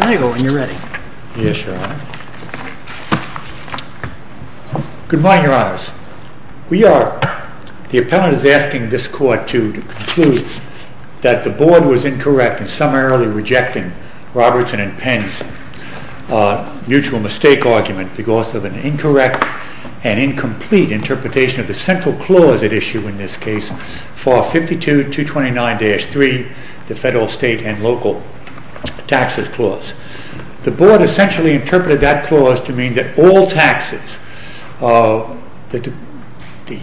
Good morning, Your Honors. The appellant is asking this Court to conclude that the Board was incorrect in summarily rejecting Robertson & Penn's mutual mistake argument because of an incorrect and incomplete interpretation of the central clause at issue in this case, FAR 52.229-3, the Federal, State, and Local Taxes Clause. The Board essentially interpreted that clause to mean that the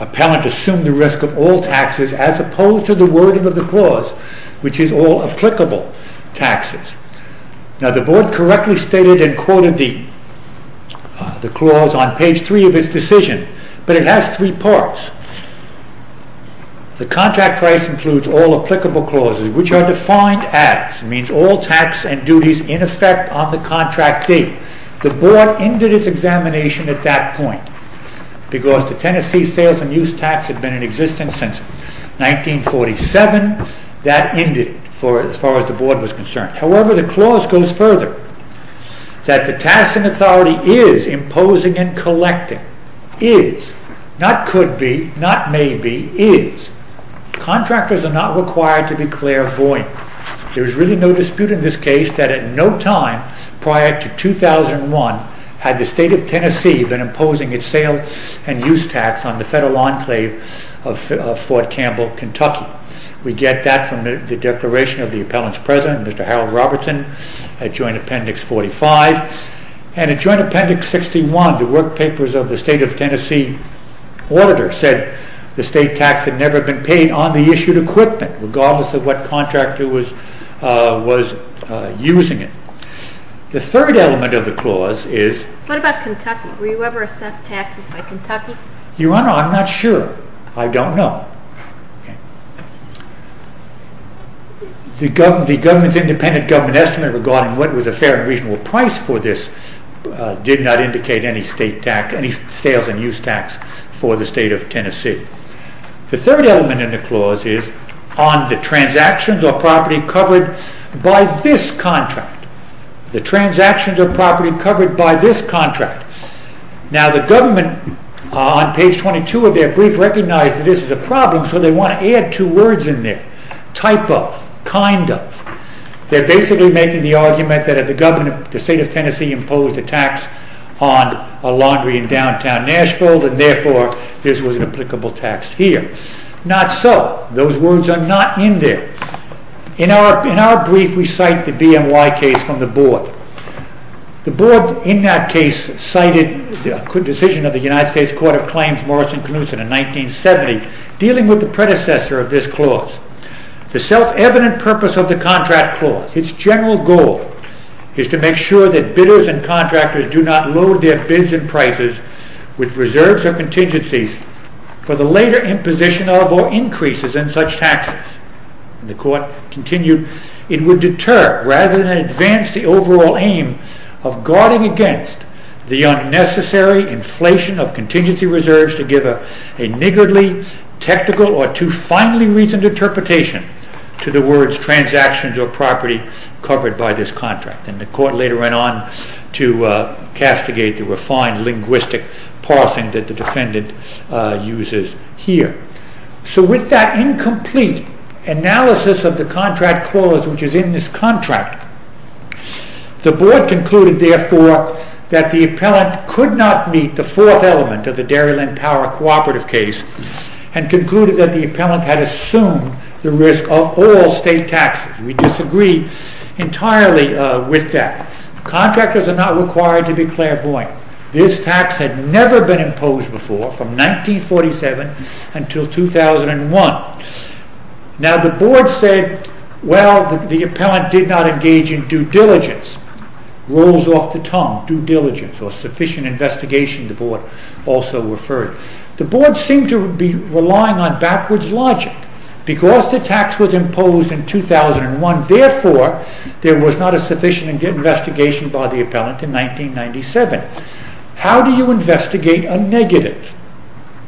appellant assumed the risk of all taxes as opposed to the wording of the clause, which is all applicable taxes. Now the Board correctly stated and quoted the clause on page 3 of its decision, but it has three parts. The contract price includes all applicable clauses, which are defined as, it means all tax and duties in effect on the contract date. The Board ended its examination at that point because the Tennessee Sales and Use Tax had been in existence since 1947, that ended as far as the Board was concerned. However, the clause goes further, that the task and authority is imposing and collecting, is, not could be, not may be, is. Contractors are not required to be clairvoyant. There is really no dispute in this case that at no time prior to 2001 had the state of Tennessee been imposing its sales and use tax on the federal enclave of Fort Campbell, Kentucky. We get that from the Declaration of the Appellant's President, Mr. Harold Robertson, Joint Appendix 45. And in Joint Appendix 61, the work papers of the state of Tennessee auditor said the state tax had never been paid on the issued equipment, regardless of what contractor was using it. The third element of the clause is... What about Kentucky? Were you ever assessed taxes by Kentucky? Your Honor, I'm not sure, I don't know. The government's independent government estimate regarding what was a fair and reasonable price for this did not indicate any sales and use tax for the state of Tennessee. The third element in the clause is on the transactions or property covered by this contract. The transactions or property covered by this contract. Now the government on page 22 of their brief recognized that this is a problem, so they want to add two words in there. Type of, kind of. They're basically making the argument that the state of Tennessee imposed a tax on a laundry in downtown Nashville, and therefore this was an applicable tax here. Not so. Those words are not in there. In our brief we cite the BNY case from the board. The board in that case cited the decision of the United States Court of Claims, Morris and Knutson, in 1970, dealing with the predecessor of this clause. The self-evident purpose of the contract clause, its general goal, is to make sure that bidders and contractors do not load their bids and prices with reserves or contingencies for the later imposition of or increases in such taxes. The court continued, it would deter rather than advance the overall aim of guarding against the unnecessary inflation of contingency reserves to give a niggardly, technical, or too finely reasoned interpretation to the words transactions or property covered by this contract. Then the court later went on to castigate the refined linguistic parsing that the defendant uses here. So with that incomplete analysis of the contract clause, which is in this contract, the board concluded therefore that the appellant could not meet the fourth element of the Dairyland Power Cooperative case, and concluded that the appellant had assumed the risk of all state taxes. We disagree entirely with that. Contractors are not required to be clairvoyant. This tax had never been imposed before, from 1947 until 2001. Now the board said, well, the appellant did not engage in due diligence, rolls off the tongue, due diligence, or sufficient investigation, the board also referred. The board seemed to be relying on backwards logic. Because the tax was imposed in 2001, therefore, there was not a sufficient investigation by the appellant in 1997. How do you investigate a negative?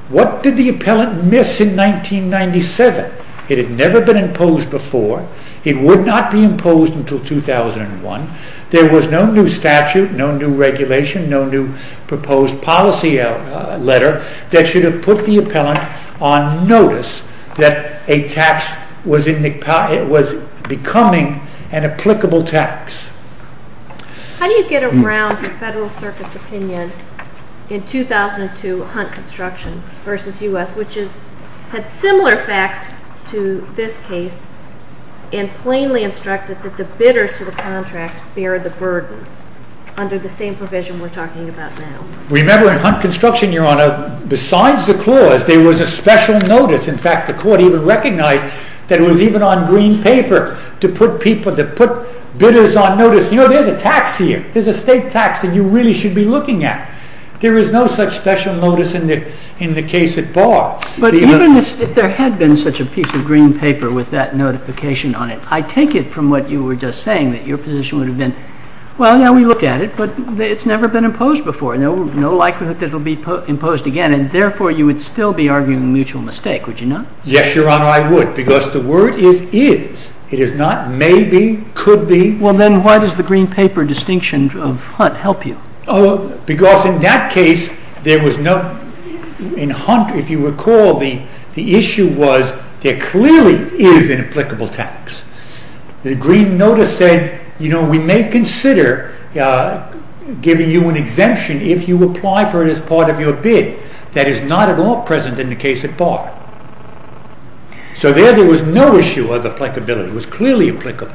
What did the appellant miss in 1997? It had never been imposed before, it would not be imposed until 2001, there was no new statute, no new regulation, no new proposed policy letter, that should have put the appellant on notice that a tax was becoming an applicable tax. How do you get around the Federal Circuit's opinion in 2002 Hunt Construction v. U.S., which had similar facts to this case, and plainly instructed that the bidder to the contract bear the burden, under the same provision we're talking about now? Remember, in Hunt Construction, Your Honor, besides the clause, there was a special notice. In fact, the court even recognized that it was even on green paper to put bidders on notice. You know, there's a tax here, there's a state tax that you really should be looking at. There is no such special notice in the case at Bar. But even if there had been such a piece of green paper with that notification on it, I take it from what you were just saying, that your position would have been, well, yeah, we looked at it, but it's never been imposed before, no likelihood that it will be imposed again, and therefore, you would still be arguing a mutual mistake, would you not? Yes, Your Honor, I would, because the word is is. It is not maybe, could be. Well, then why does the green paper distinction of Hunt help you? Oh, because in that case, there was no, in Hunt, if you recall, the issue was, there clearly is an applicable tax. The green notice said, you know, we may consider giving you an exemption if you apply for it as part of your bid. That is not at all present in the case at Bar. So there, there was no issue of applicability. It was clearly applicable.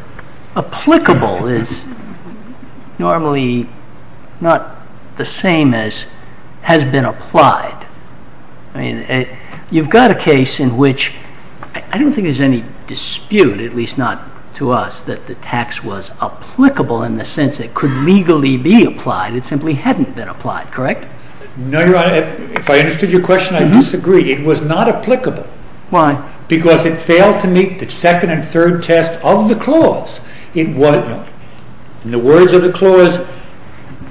But applicable is normally not the same as has been applied. I mean, you've got a case in which, I don't think there's any dispute, at least not to us, that the tax was applicable in the sense it could legally be applied. It simply hadn't been applied, correct? No, Your Honor, if I understood your question, I disagree. It was not applicable. Why? Because it failed to meet the second and third test of the clause. In the words of the clause,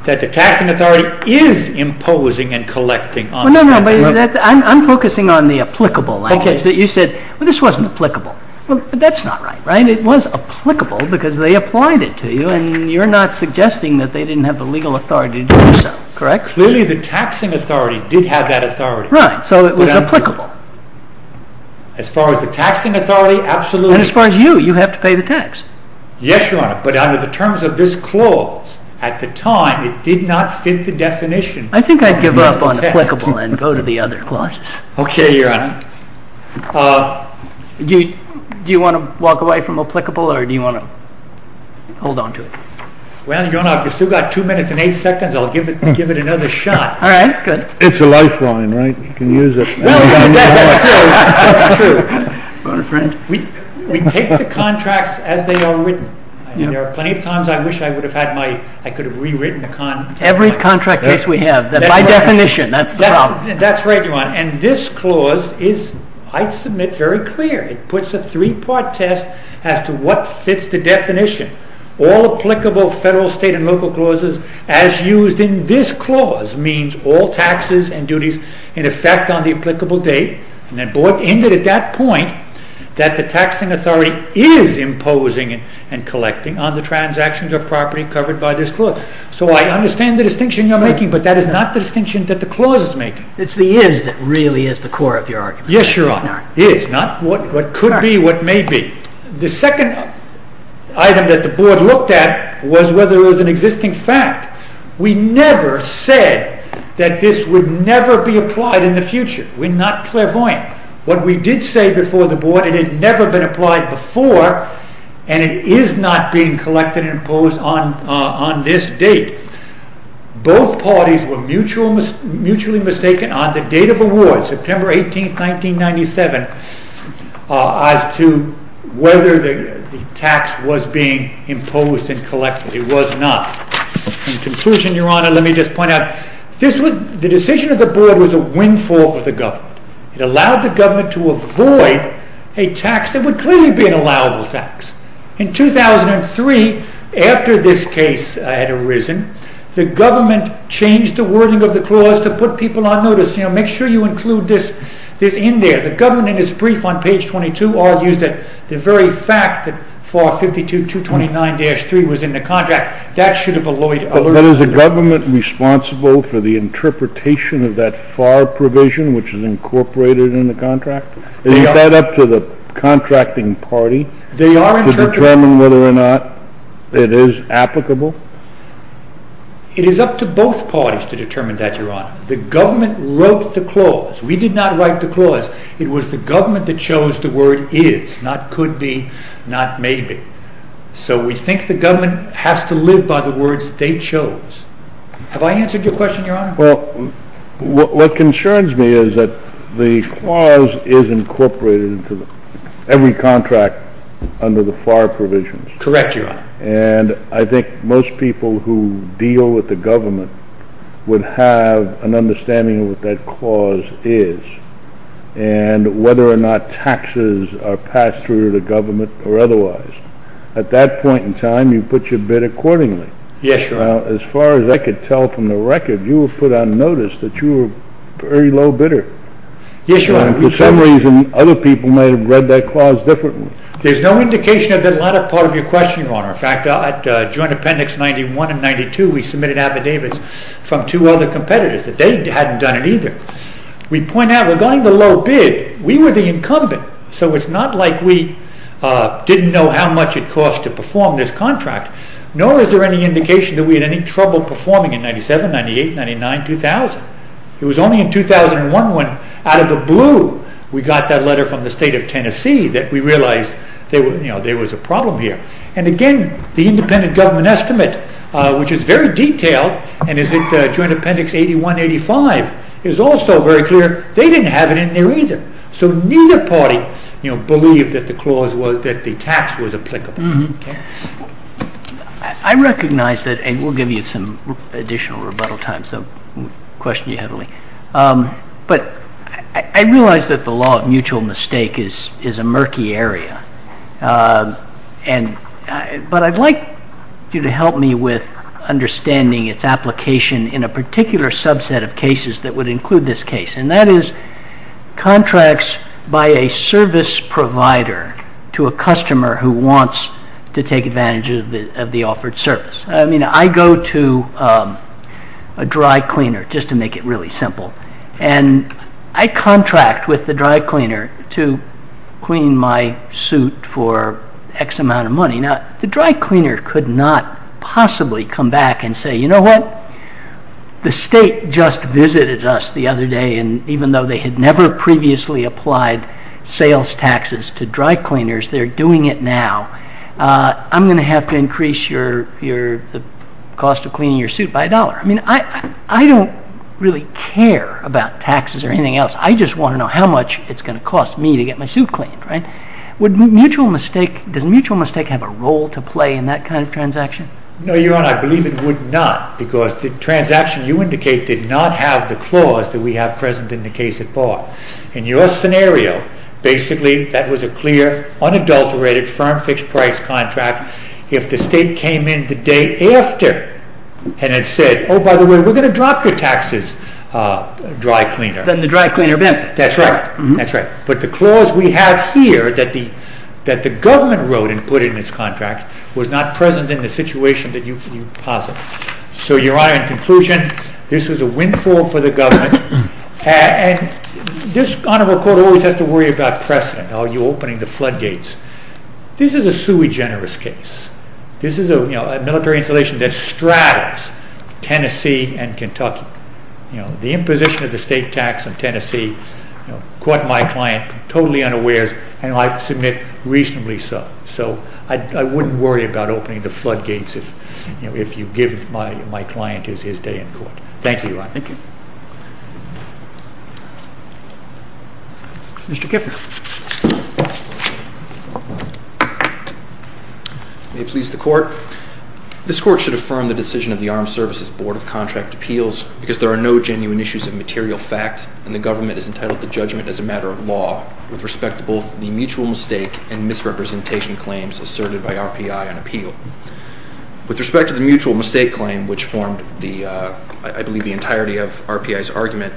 that the taxing authority is imposing and collecting on the taxing authority. Well, no, no, I'm focusing on the applicable. Okay. You said, well, this wasn't applicable. Well, that's not right, right? It was applicable because they applied it to you, and you're not suggesting that they didn't have the legal authority to do so, correct? Clearly, the taxing authority did have that authority. Right, so it was applicable. As far as the taxing authority, absolutely. And as far as you, you have to pay the tax. Yes, Your Honor, but under the terms of this clause, at the time, it did not fit the definition. I think I'd give up on applicable and go to the other clauses. Okay, Your Honor. Do you want to walk away from applicable, or do you want to hold on to it? Well, Your Honor, if you've still got two minutes and eight seconds, I'll give it another shot. All right, good. It's a lifeline, right? You can use it. Well, that's true, that's true. We take the contracts as they are written, and there are plenty of times I wish I could have rewritten the contract. Every contract case we have, by definition, that's the problem. That's right, Your Honor. And this clause is, I submit, very clear. It puts a three-part test as to what fits the definition. All applicable federal, state, and local clauses, as used in this clause, means all taxes and duties in effect on the applicable date. And it ended at that point that the taxing authority is imposing and collecting on the transactions of property covered by this clause. So I understand the distinction you're making, but that is not the distinction that the clause is making. It's the is that really is the core of your argument. Yes, Your Honor, is, not what could be, what may be. The second item that the board looked at was whether it was an existing fact. We never said that this would never be applied in the future. We're not clairvoyant. What we did say before the board, it had never been applied before, and it is not being collected and imposed on this date. Both parties were mutually mistaken on the date of award, September 18, 1997, as to whether the tax was being imposed and collected. It was not. In conclusion, Your Honor, let me just point out, the decision of the board was a windfall for the government. It allowed the government to avoid a tax that would clearly be an allowable tax. In 2003, after this case had arisen, the government changed the wording of the clause to put people on notice. You know, make sure you include this in there. The government, in its brief on page 22, argues that the very fact that FAR 52.229-3 was in the contract, that should have alloyed others. But is the government responsible for the interpretation of that FAR provision, which is incorporated in the contract? Is that up to the contracting party to determine whether or not it is applicable? It is up to both parties to determine that, Your Honor. The government wrote the clause. We did not write the clause. It was the government that chose the word is, not could be, not maybe. So we think the government has to live by the words they chose. Have I answered your question, Your Honor? Well, what concerns me is that the clause is incorporated into every contract under the FAR provisions. Correct, Your Honor. And I think most people who deal with the government would have an understanding of what that clause is, and whether or not taxes are passed through to the government or otherwise. At that point in time, you put your bid accordingly. Yes, Your Honor. Now, as far as I could tell from the record, you have put on notice that you were very low bidder. Yes, Your Honor. For some reason, other people may have read that clause differently. There is no indication of the latter part of your question, Your Honor. In fact, at Joint Appendix 91 and 92, we submitted affidavits from two other competitors. They had not done it either. We point out, regarding the low bid, we were the incumbent, so it is not like we did not know how much it cost to perform this contract, nor is there any indication that we had any trouble performing in 1997, 1998, 1999, 2000. It was only in 2001 when, out of the blue, we got that letter from the state of Tennessee that we realized there was a problem here. And again, the independent government estimate, which is very detailed, and is at Joint Appendix 81, 85, is also very clear. They did not have it in there either. So neither party believed that the tax was applicable. I recognize that, and we will give you some additional rebuttal time, so I will question you heavily. But I realize that the law of mutual mistake is a murky area, but I would like you to help me with understanding its application in a particular subset of cases that would include this case, and that is contracts by a service provider to a customer who wants to take advantage of the offered service. I mean, I go to a dry cleaner, just to make it really simple, and I contract with the dry cleaner to clean my suit for X amount of money. Now, the dry cleaner could not possibly come back and say, you know what, the state just visited us the other day, and even though they had never previously applied sales taxes to dry cleaners, they're doing it now. I'm going to have to increase the cost of cleaning your suit by a dollar. I mean, I don't really care about taxes or anything else. I just want to know how much it's going to cost me to get my suit cleaned, right? Does mutual mistake have a role to play in that kind of transaction? No, Your Honor, I believe it would not, because the transaction you indicate did not have the clause that we have present in the case at bar. In your scenario, basically, that was a clear, unadulterated, firm fixed price contract. Now, if the state came in the day after and had said, oh, by the way, we're going to drop your taxes, dry cleaner. Then the dry cleaner bent. That's right, that's right. But the clause we have here that the government wrote and put in its contract was not present in the situation that you posit. So, Your Honor, in conclusion, this was a windfall for the government, and this honorable court always has to worry about precedent. Are you opening the floodgates? This is a sui generis case. This is a military installation that straddles Tennessee and Kentucky. The imposition of the state tax on Tennessee caught my client totally unawares, and I submit reasonably so. So I wouldn't worry about opening the floodgates if you give my client his day in court. Thank you, Your Honor. Thank you. Mr. Kiffner. May it please the court. This court should affirm the decision of the Armed Services Board of Contract Appeals because there are no genuine issues of material fact, and the government has entitled the judgment as a matter of law with respect to both the mutual mistake and misrepresentation claims asserted by RPI on appeal. With respect to the mutual mistake claim, which formed, I believe, the entirety of RPI's argument,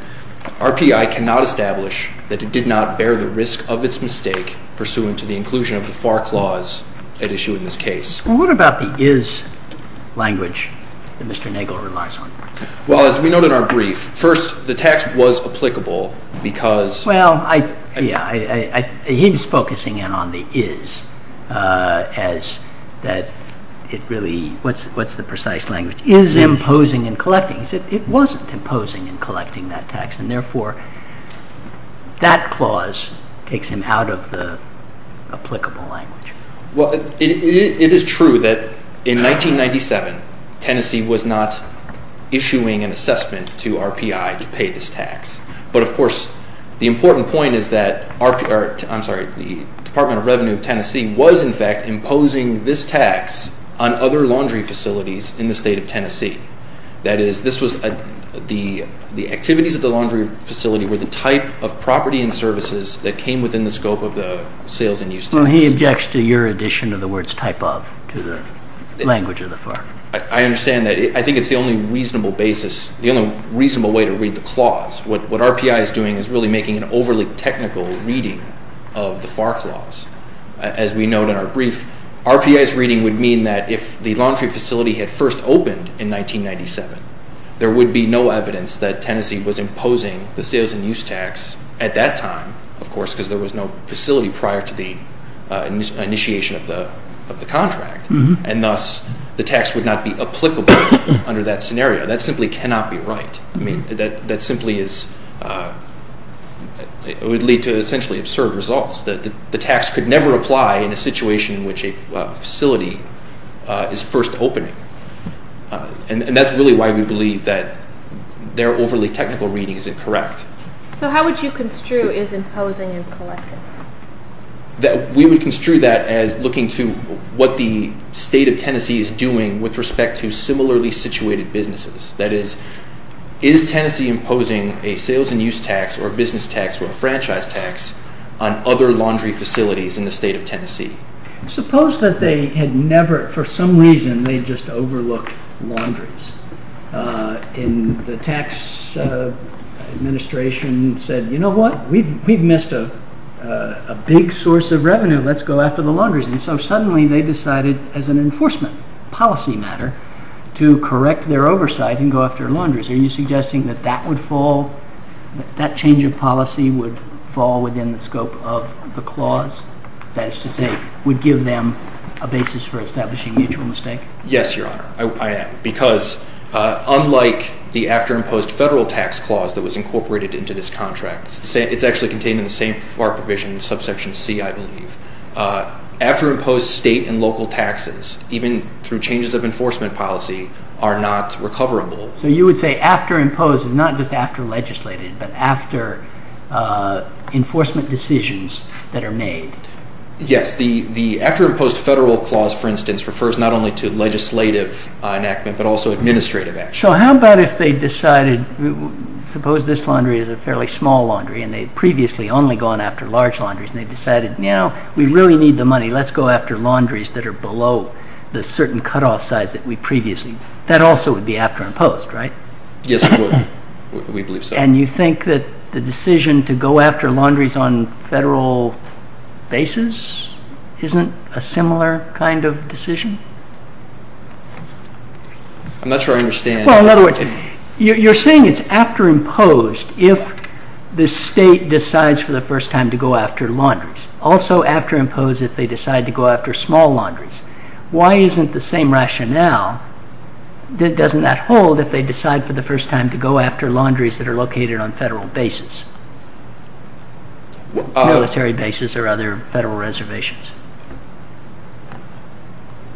RPI cannot establish that it did not bear the risk of its mistake pursuant to the inclusion of the FAR clause at issue in this case. Well, what about the is language that Mr. Nagel relies on? Well, as we note in our brief, first, the tax was applicable because Well, yeah, he was focusing in on the is as that it really, what's the precise language? Is imposing and collecting. He said it wasn't imposing and collecting that tax, and therefore, that clause takes him out of the applicable language. Well, it is true that in 1997, Tennessee was not issuing an assessment to RPI to pay this tax. But, of course, the important point is that the Department of Revenue of Tennessee was, in fact, imposing this tax on other laundry facilities in the state of Tennessee. That is, the activities of the laundry facility were the type of property and services that came within the scope of the sales and use tax. Well, he objects to your addition of the words type of to the language of the FAR. I understand that. I think it's the only reasonable basis, the only reasonable way to read the clause. What RPI is doing is really making an overly technical reading of the FAR clause. As we note in our brief, RPI's reading would mean that if the laundry facility had first opened in 1997, there would be no evidence that Tennessee was imposing the sales and use tax at that time, of course, because there was no facility prior to the initiation of the contract. And thus, the tax would not be applicable under that scenario. That simply cannot be right. I mean, that simply is, it would lead to essentially absurd results. The tax could never apply in a situation in which a facility is first opening. And that's really why we believe that their overly technical reading is incorrect. So how would you construe is imposing and collecting? We would construe that as looking to what the state of Tennessee is doing with respect to similarly situated businesses. That is, is Tennessee imposing a sales and use tax or a business tax or a franchise tax on other laundry facilities in the state of Tennessee? Suppose that they had never, for some reason, they just overlooked laundries. And the tax administration said, you know what? We've missed a big source of revenue. Let's go after the laundries. And so suddenly they decided as an enforcement policy matter to correct their oversight and go after laundries. Are you suggesting that that would fall, that change of policy would fall within the scope of the clause? That is to say, would give them a basis for establishing mutual mistake? Yes, Your Honor, I am. Because unlike the after-imposed federal tax clause that was incorporated into this contract, it's actually contained in the same FAR provision, subsection C, I believe. After-imposed state and local taxes, even through changes of enforcement policy, are not recoverable. So you would say after-imposed is not just after legislated, but after enforcement decisions that are made. Yes, the after-imposed federal clause, for instance, refers not only to legislative enactment but also administrative action. So how about if they decided, suppose this laundry is a fairly small laundry and they had previously only gone after large laundries and they decided, you know, we really need the money. Let's go after laundries that are below the certain cutoff size that we previously. That also would be after-imposed, right? Yes, it would. We believe so. And you think that the decision to go after laundries on federal basis isn't a similar kind of decision? I'm not sure I understand. Well, in other words, you're saying it's after-imposed if the state decides for the first time to go after laundries. Also after-imposed if they decide to go after small laundries. Why isn't the same rationale that doesn't that hold if they decide for the first time to go after laundries that are located on federal basis, military basis or other federal reservations?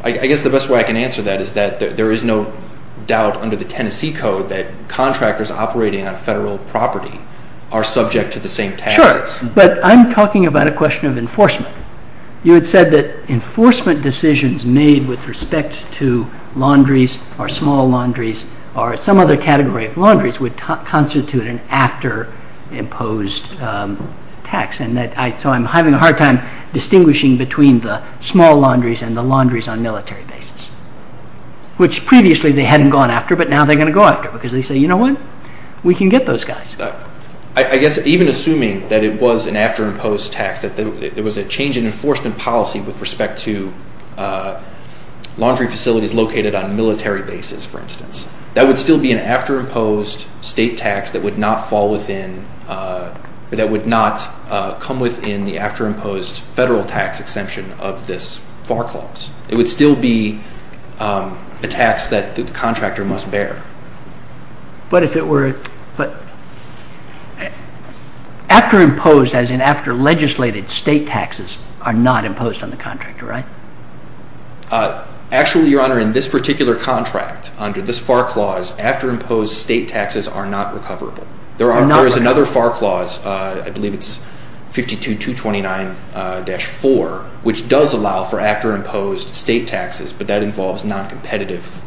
I guess the best way I can answer that is that there is no doubt under the Tennessee Code that contractors operating on federal property are subject to the same taxes. Sure. But I'm talking about a question of enforcement. You had said that enforcement decisions made with respect to laundries or small laundries or some other category of laundries would constitute an after-imposed tax. So I'm having a hard time distinguishing between the small laundries and the laundries on military basis, which previously they hadn't gone after but now they're going to go after because they say, you know what, we can get those guys. I guess even assuming that it was an after-imposed tax, that there was a change in enforcement policy with respect to laundry facilities located on military basis, for instance, that would still be an after-imposed state tax that would not fall within or that would not come within the after-imposed federal tax exemption of this FAR clause. It would still be a tax that the contractor must bear. But if it were, but after-imposed as in after-legislated state taxes are not imposed on the contractor, right? Actually, Your Honor, in this particular contract, under this FAR clause, after-imposed state taxes are not recoverable. There is another FAR clause, I believe it's 52229-4, which does allow for after-imposed state taxes, but that involves non-competitive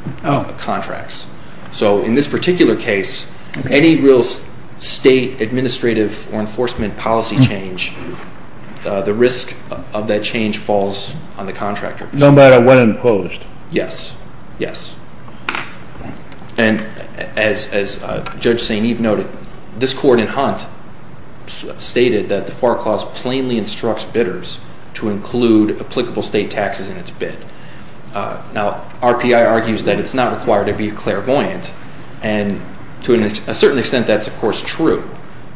contracts. So in this particular case, any real state administrative or enforcement policy change, the risk of that change falls on the contractor. No matter when imposed? Yes, yes. And as Judge St. Eve noted, this court in Hunt stated that the FAR clause plainly instructs bidders to include applicable state taxes in its bid. Now, RPI argues that it's not required to be clairvoyant, and to a certain extent that's of course true,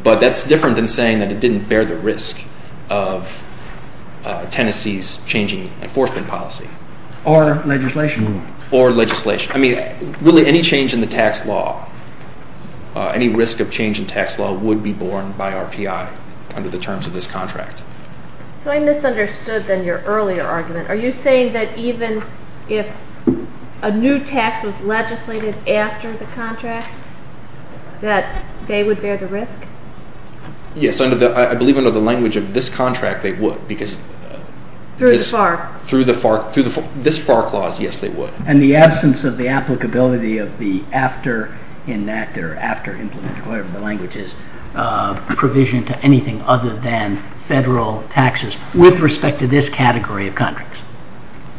but that's different than saying that it didn't bear the risk of Tennessee's changing enforcement policy. Or legislation. Or legislation. I mean, really any change in the tax law, any risk of change in tax law would be borne by RPI under the terms of this contract. So I misunderstood then your earlier argument. Are you saying that even if a new tax was legislated after the contract, that they would bear the risk? Yes, I believe under the language of this contract they would. Through the FAR? Through this FAR clause, yes, they would. And the absence of the applicability of the after-enacted or after-implemented, whatever the language is, provision to anything other than federal taxes with respect to this category of contracts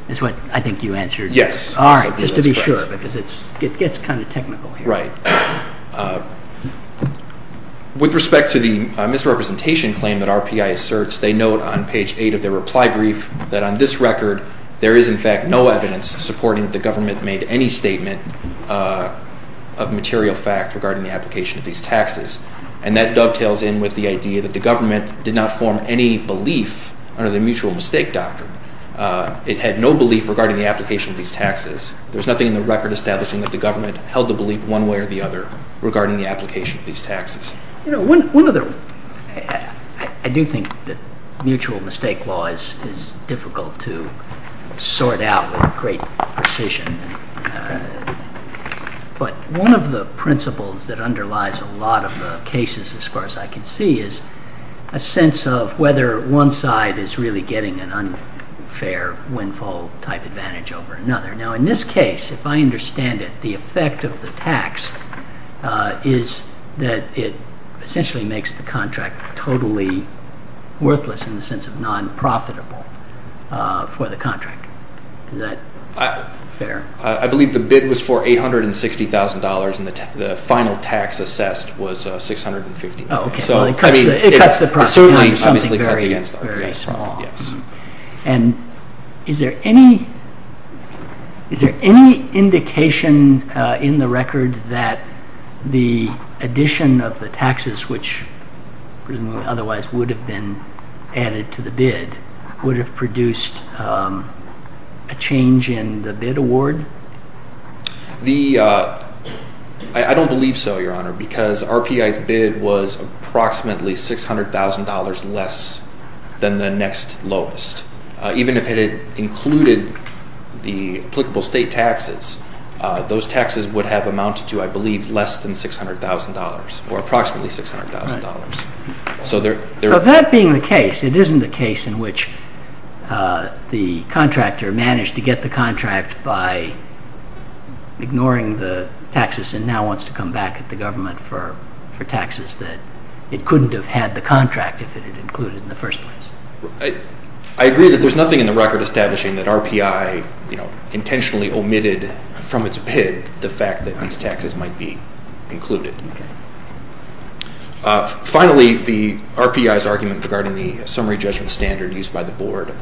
is what I think you answered. Yes. All right, just to be sure, because it gets kind of technical here. Right. With respect to the misrepresentation claim that RPI asserts, they note on page 8 of their reply brief that on this record, there is in fact no evidence supporting that the government made any statement of material fact regarding the application of these taxes. And that dovetails in with the idea that the government did not form any belief under the mutual mistake doctrine. It had no belief regarding the application of these taxes. There is nothing in the record establishing that the government held the belief one way or the other regarding the application of these taxes. You know, I do think that mutual mistake law is difficult to sort out with great precision. But one of the principles that underlies a lot of the cases, as far as I can see, is a sense of whether one side is really getting an unfair windfall-type advantage over another. Now, in this case, if I understand it, the effect of the tax is that it essentially makes the contract totally worthless in the sense of non-profitable for the contract. Is that fair? I believe the bid was for $860,000, and the final tax assessed was $650,000. Oh, okay. Well, it cuts the price. It certainly, obviously, cuts against that. Very, very small. Yes. And is there any indication in the record that the addition of the taxes, which otherwise would have been added to the bid, would have produced a change in the bid award? I don't believe so, Your Honor, because RPI's bid was approximately $600,000 less than the next lowest. Even if it had included the applicable state taxes, those taxes would have amounted to, I believe, less than $600,000 or approximately $600,000. So that being the case, it isn't the case in which the contractor managed to get the contract by ignoring the taxes and now wants to come back at the government for taxes that it couldn't have had the contract if it had included in the first place. I agree that there's nothing in the record establishing that RPI intentionally omitted from its bid the fact that these taxes might be included. Okay. Finally, the RPI's argument regarding the summary judgment standard used by the Board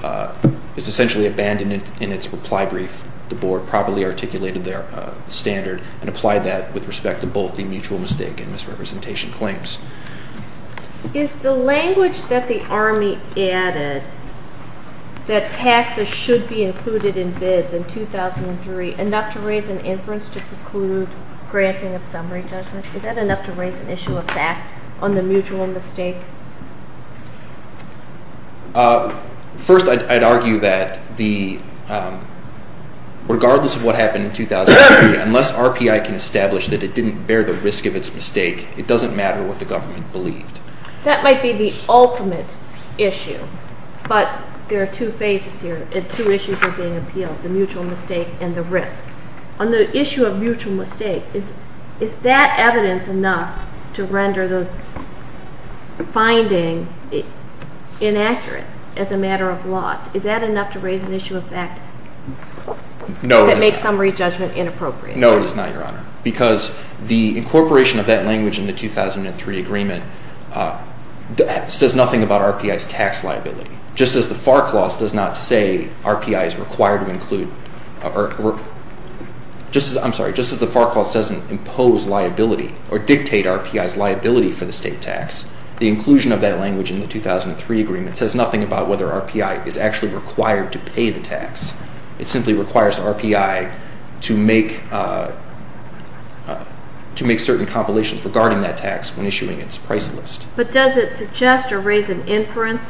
is essentially abandoned in its reply brief. The Board properly articulated their standard and applied that with respect to both the mutual mistake and misrepresentation claims. Is the language that the Army added that taxes should be included in bids in 2003 enough to raise an inference to preclude granting of summary judgment? Is that enough to raise an issue of fact on the mutual mistake? First, I'd argue that regardless of what happened in 2003, unless RPI can establish that it didn't bear the risk of its mistake, it doesn't matter what the government believed. That might be the ultimate issue, but there are two phases here and two issues that are being appealed, the mutual mistake and the risk. On the issue of mutual mistake, is that evidence enough to render the finding inaccurate as a matter of law? Is that enough to raise an issue of fact that makes summary judgment inappropriate? No, it is not, Your Honor, because the incorporation of that language in the 2003 agreement says nothing about RPI's tax liability. Just as the FAR clause doesn't impose liability or dictate RPI's liability for the state tax, the inclusion of that language in the 2003 agreement says nothing about whether RPI is actually required to pay the tax. It simply requires RPI to make certain compilations regarding that tax when issuing its price list. But does it suggest or raise an inference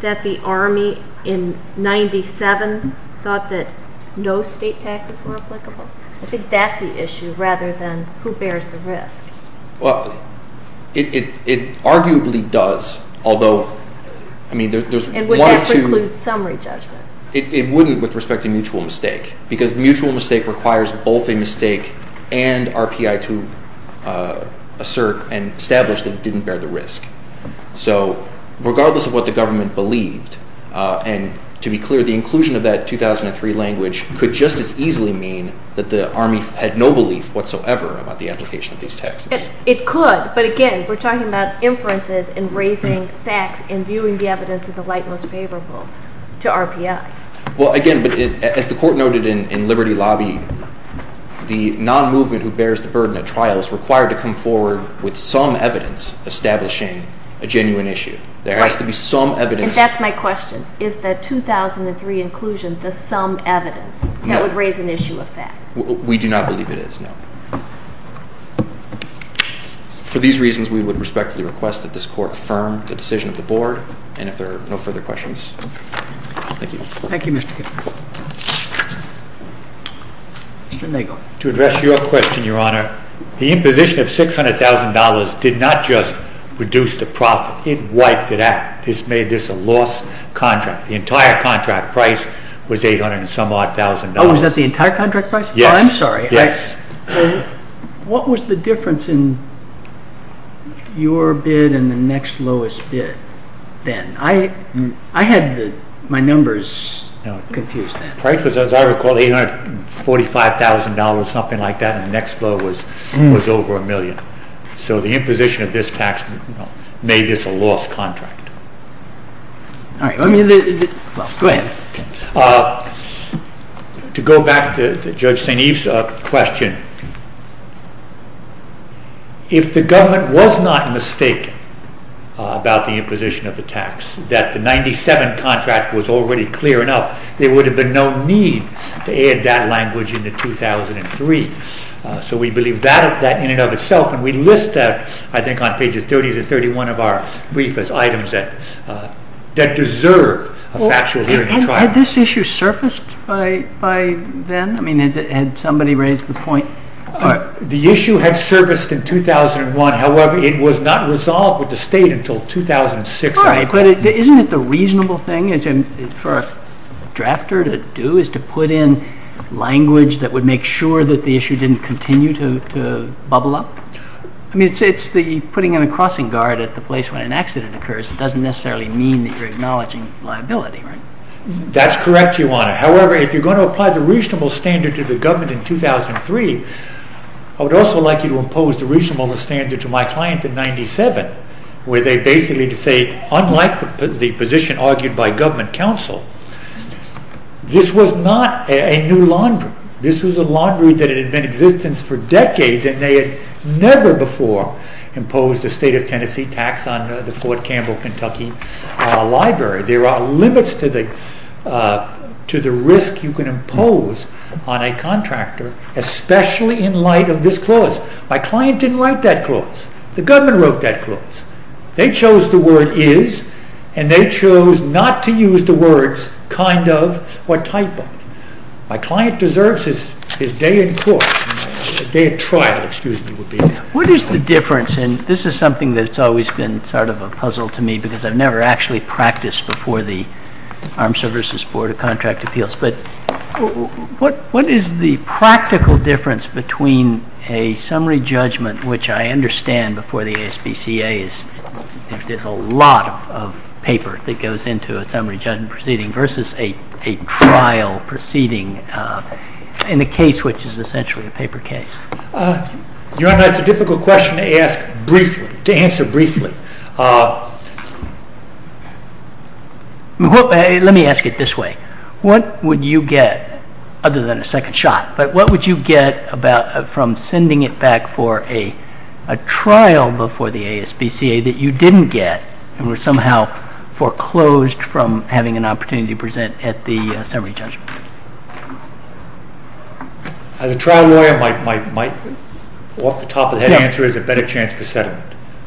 that the Army in 1997 thought that no state taxes were applicable? I think that's the issue rather than who bears the risk. Well, it arguably does, although, I mean, there's one or two... And would that preclude summary judgment? It wouldn't with respect to mutual mistake, because mutual mistake requires both a mistake and RPI to assert and establish that it didn't bear the risk. So regardless of what the government believed, and to be clear, the inclusion of that 2003 language could just as easily mean that the Army had no belief whatsoever about the application of these taxes. It could, but again, we're talking about inferences and raising facts and viewing the evidence as the light most favorable to RPI. Well, again, but as the Court noted in Liberty Lobby, the non-movement who bears the burden of trial is required to come forward with some evidence establishing a genuine issue. There has to be some evidence... And that's my question. Is the 2003 inclusion the some evidence that would raise an issue of fact? We do not believe it is, no. For these reasons, we would respectfully request that this Court affirm the decision of the Board, and if there are no further questions, thank you. Thank you, Mr. Kiffmeyer. Mr. Nagel. To address your question, Your Honor, the imposition of $600,000 did not just reduce the profit. It wiped it out. This made this a lost contract. The entire contract price was $800 and some odd thousand dollars. Oh, was that the entire contract price? Yes. Oh, I'm sorry. Yes. What was the difference in your bid and the next lowest bid then? I had my numbers confused then. The price was, as I recall, $845,000, something like that, and the next low was over a million. So the imposition of this tax made this a lost contract. All right. Well, go ahead. To go back to Judge St. Eve's question, if the government was not mistaken about the imposition of the tax, that the 1997 contract was already clear enough, there would have been no need to add that language into 2003. So we believe that in and of itself, and we list that, I think, on pages 30 to 31 of our brief as items that deserve a factual hearing and trial. Had this issue surfaced by then? I mean, had somebody raised the point? The issue had surfaced in 2001. However, it was not resolved with the State until 2006. All right. But isn't it the reasonable thing for a drafter to do is to put in language that would make sure that the issue didn't continue to bubble up? I mean, putting in a crossing guard at the place where an accident occurs doesn't necessarily mean that you're acknowledging liability, right? That's correct, Your Honor. However, if you're going to apply the reasonable standard to the government in 2003, I would also like you to impose the reasonable standard to my client in 1997, where they basically say, unlike the position argued by government counsel, this was not a new laundry. This was a laundry that had been in existence for decades, and they had never before imposed a state of Tennessee tax on the Fort Campbell, Kentucky library. There are limits to the risk you can impose on a contractor, especially in light of this clause. My client didn't write that clause. The government wrote that clause. They chose the word is, and they chose not to use the words kind of or type of. My client deserves his day in trial. What is the difference, and this is something that's always been sort of a puzzle to me, because I've never actually practiced before the Armed Services Board of Contract Appeals, but what is the practical difference between a summary judgment, which I understand before the ASPCA, there's a lot of paper that goes into a summary judgment proceeding, versus a trial proceeding in a case which is essentially a paper case? Your Honor, it's a difficult question to ask briefly, to answer briefly. Let me ask it this way. What would you get, other than a second shot, but what would you get from sending it back for a trial before the ASPCA that you didn't get and were somehow foreclosed from having an opportunity to present at the summary judgment? As a trial lawyer, my off-the-top-of-the-head answer is a better chance for settlement.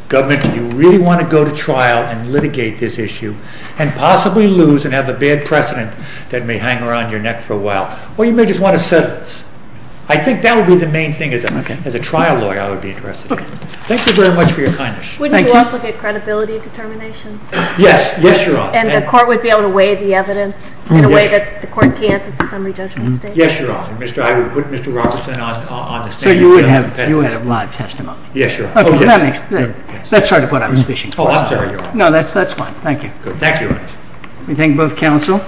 Government, do you really want to go to trial and litigate this issue and possibly lose and have a bad precedent that may hang around your neck for a while, or you may just want to settle this? I think that would be the main thing as a trial lawyer I would be interested in. Thank you very much for your kindness. Wouldn't you also get credibility determination? Yes. Yes, Your Honor. And the court would be able to weigh the evidence in a way that the court can't at the summary judgment stage? Yes, Your Honor. I would put Mr. Robertson on the stand. So you would have live testimony? Yes, Your Honor. That's sort of what I was wishing for. Oh, I'm sorry, Your Honor. No, that's fine. Thank you. Thank you. Let me thank both counsel.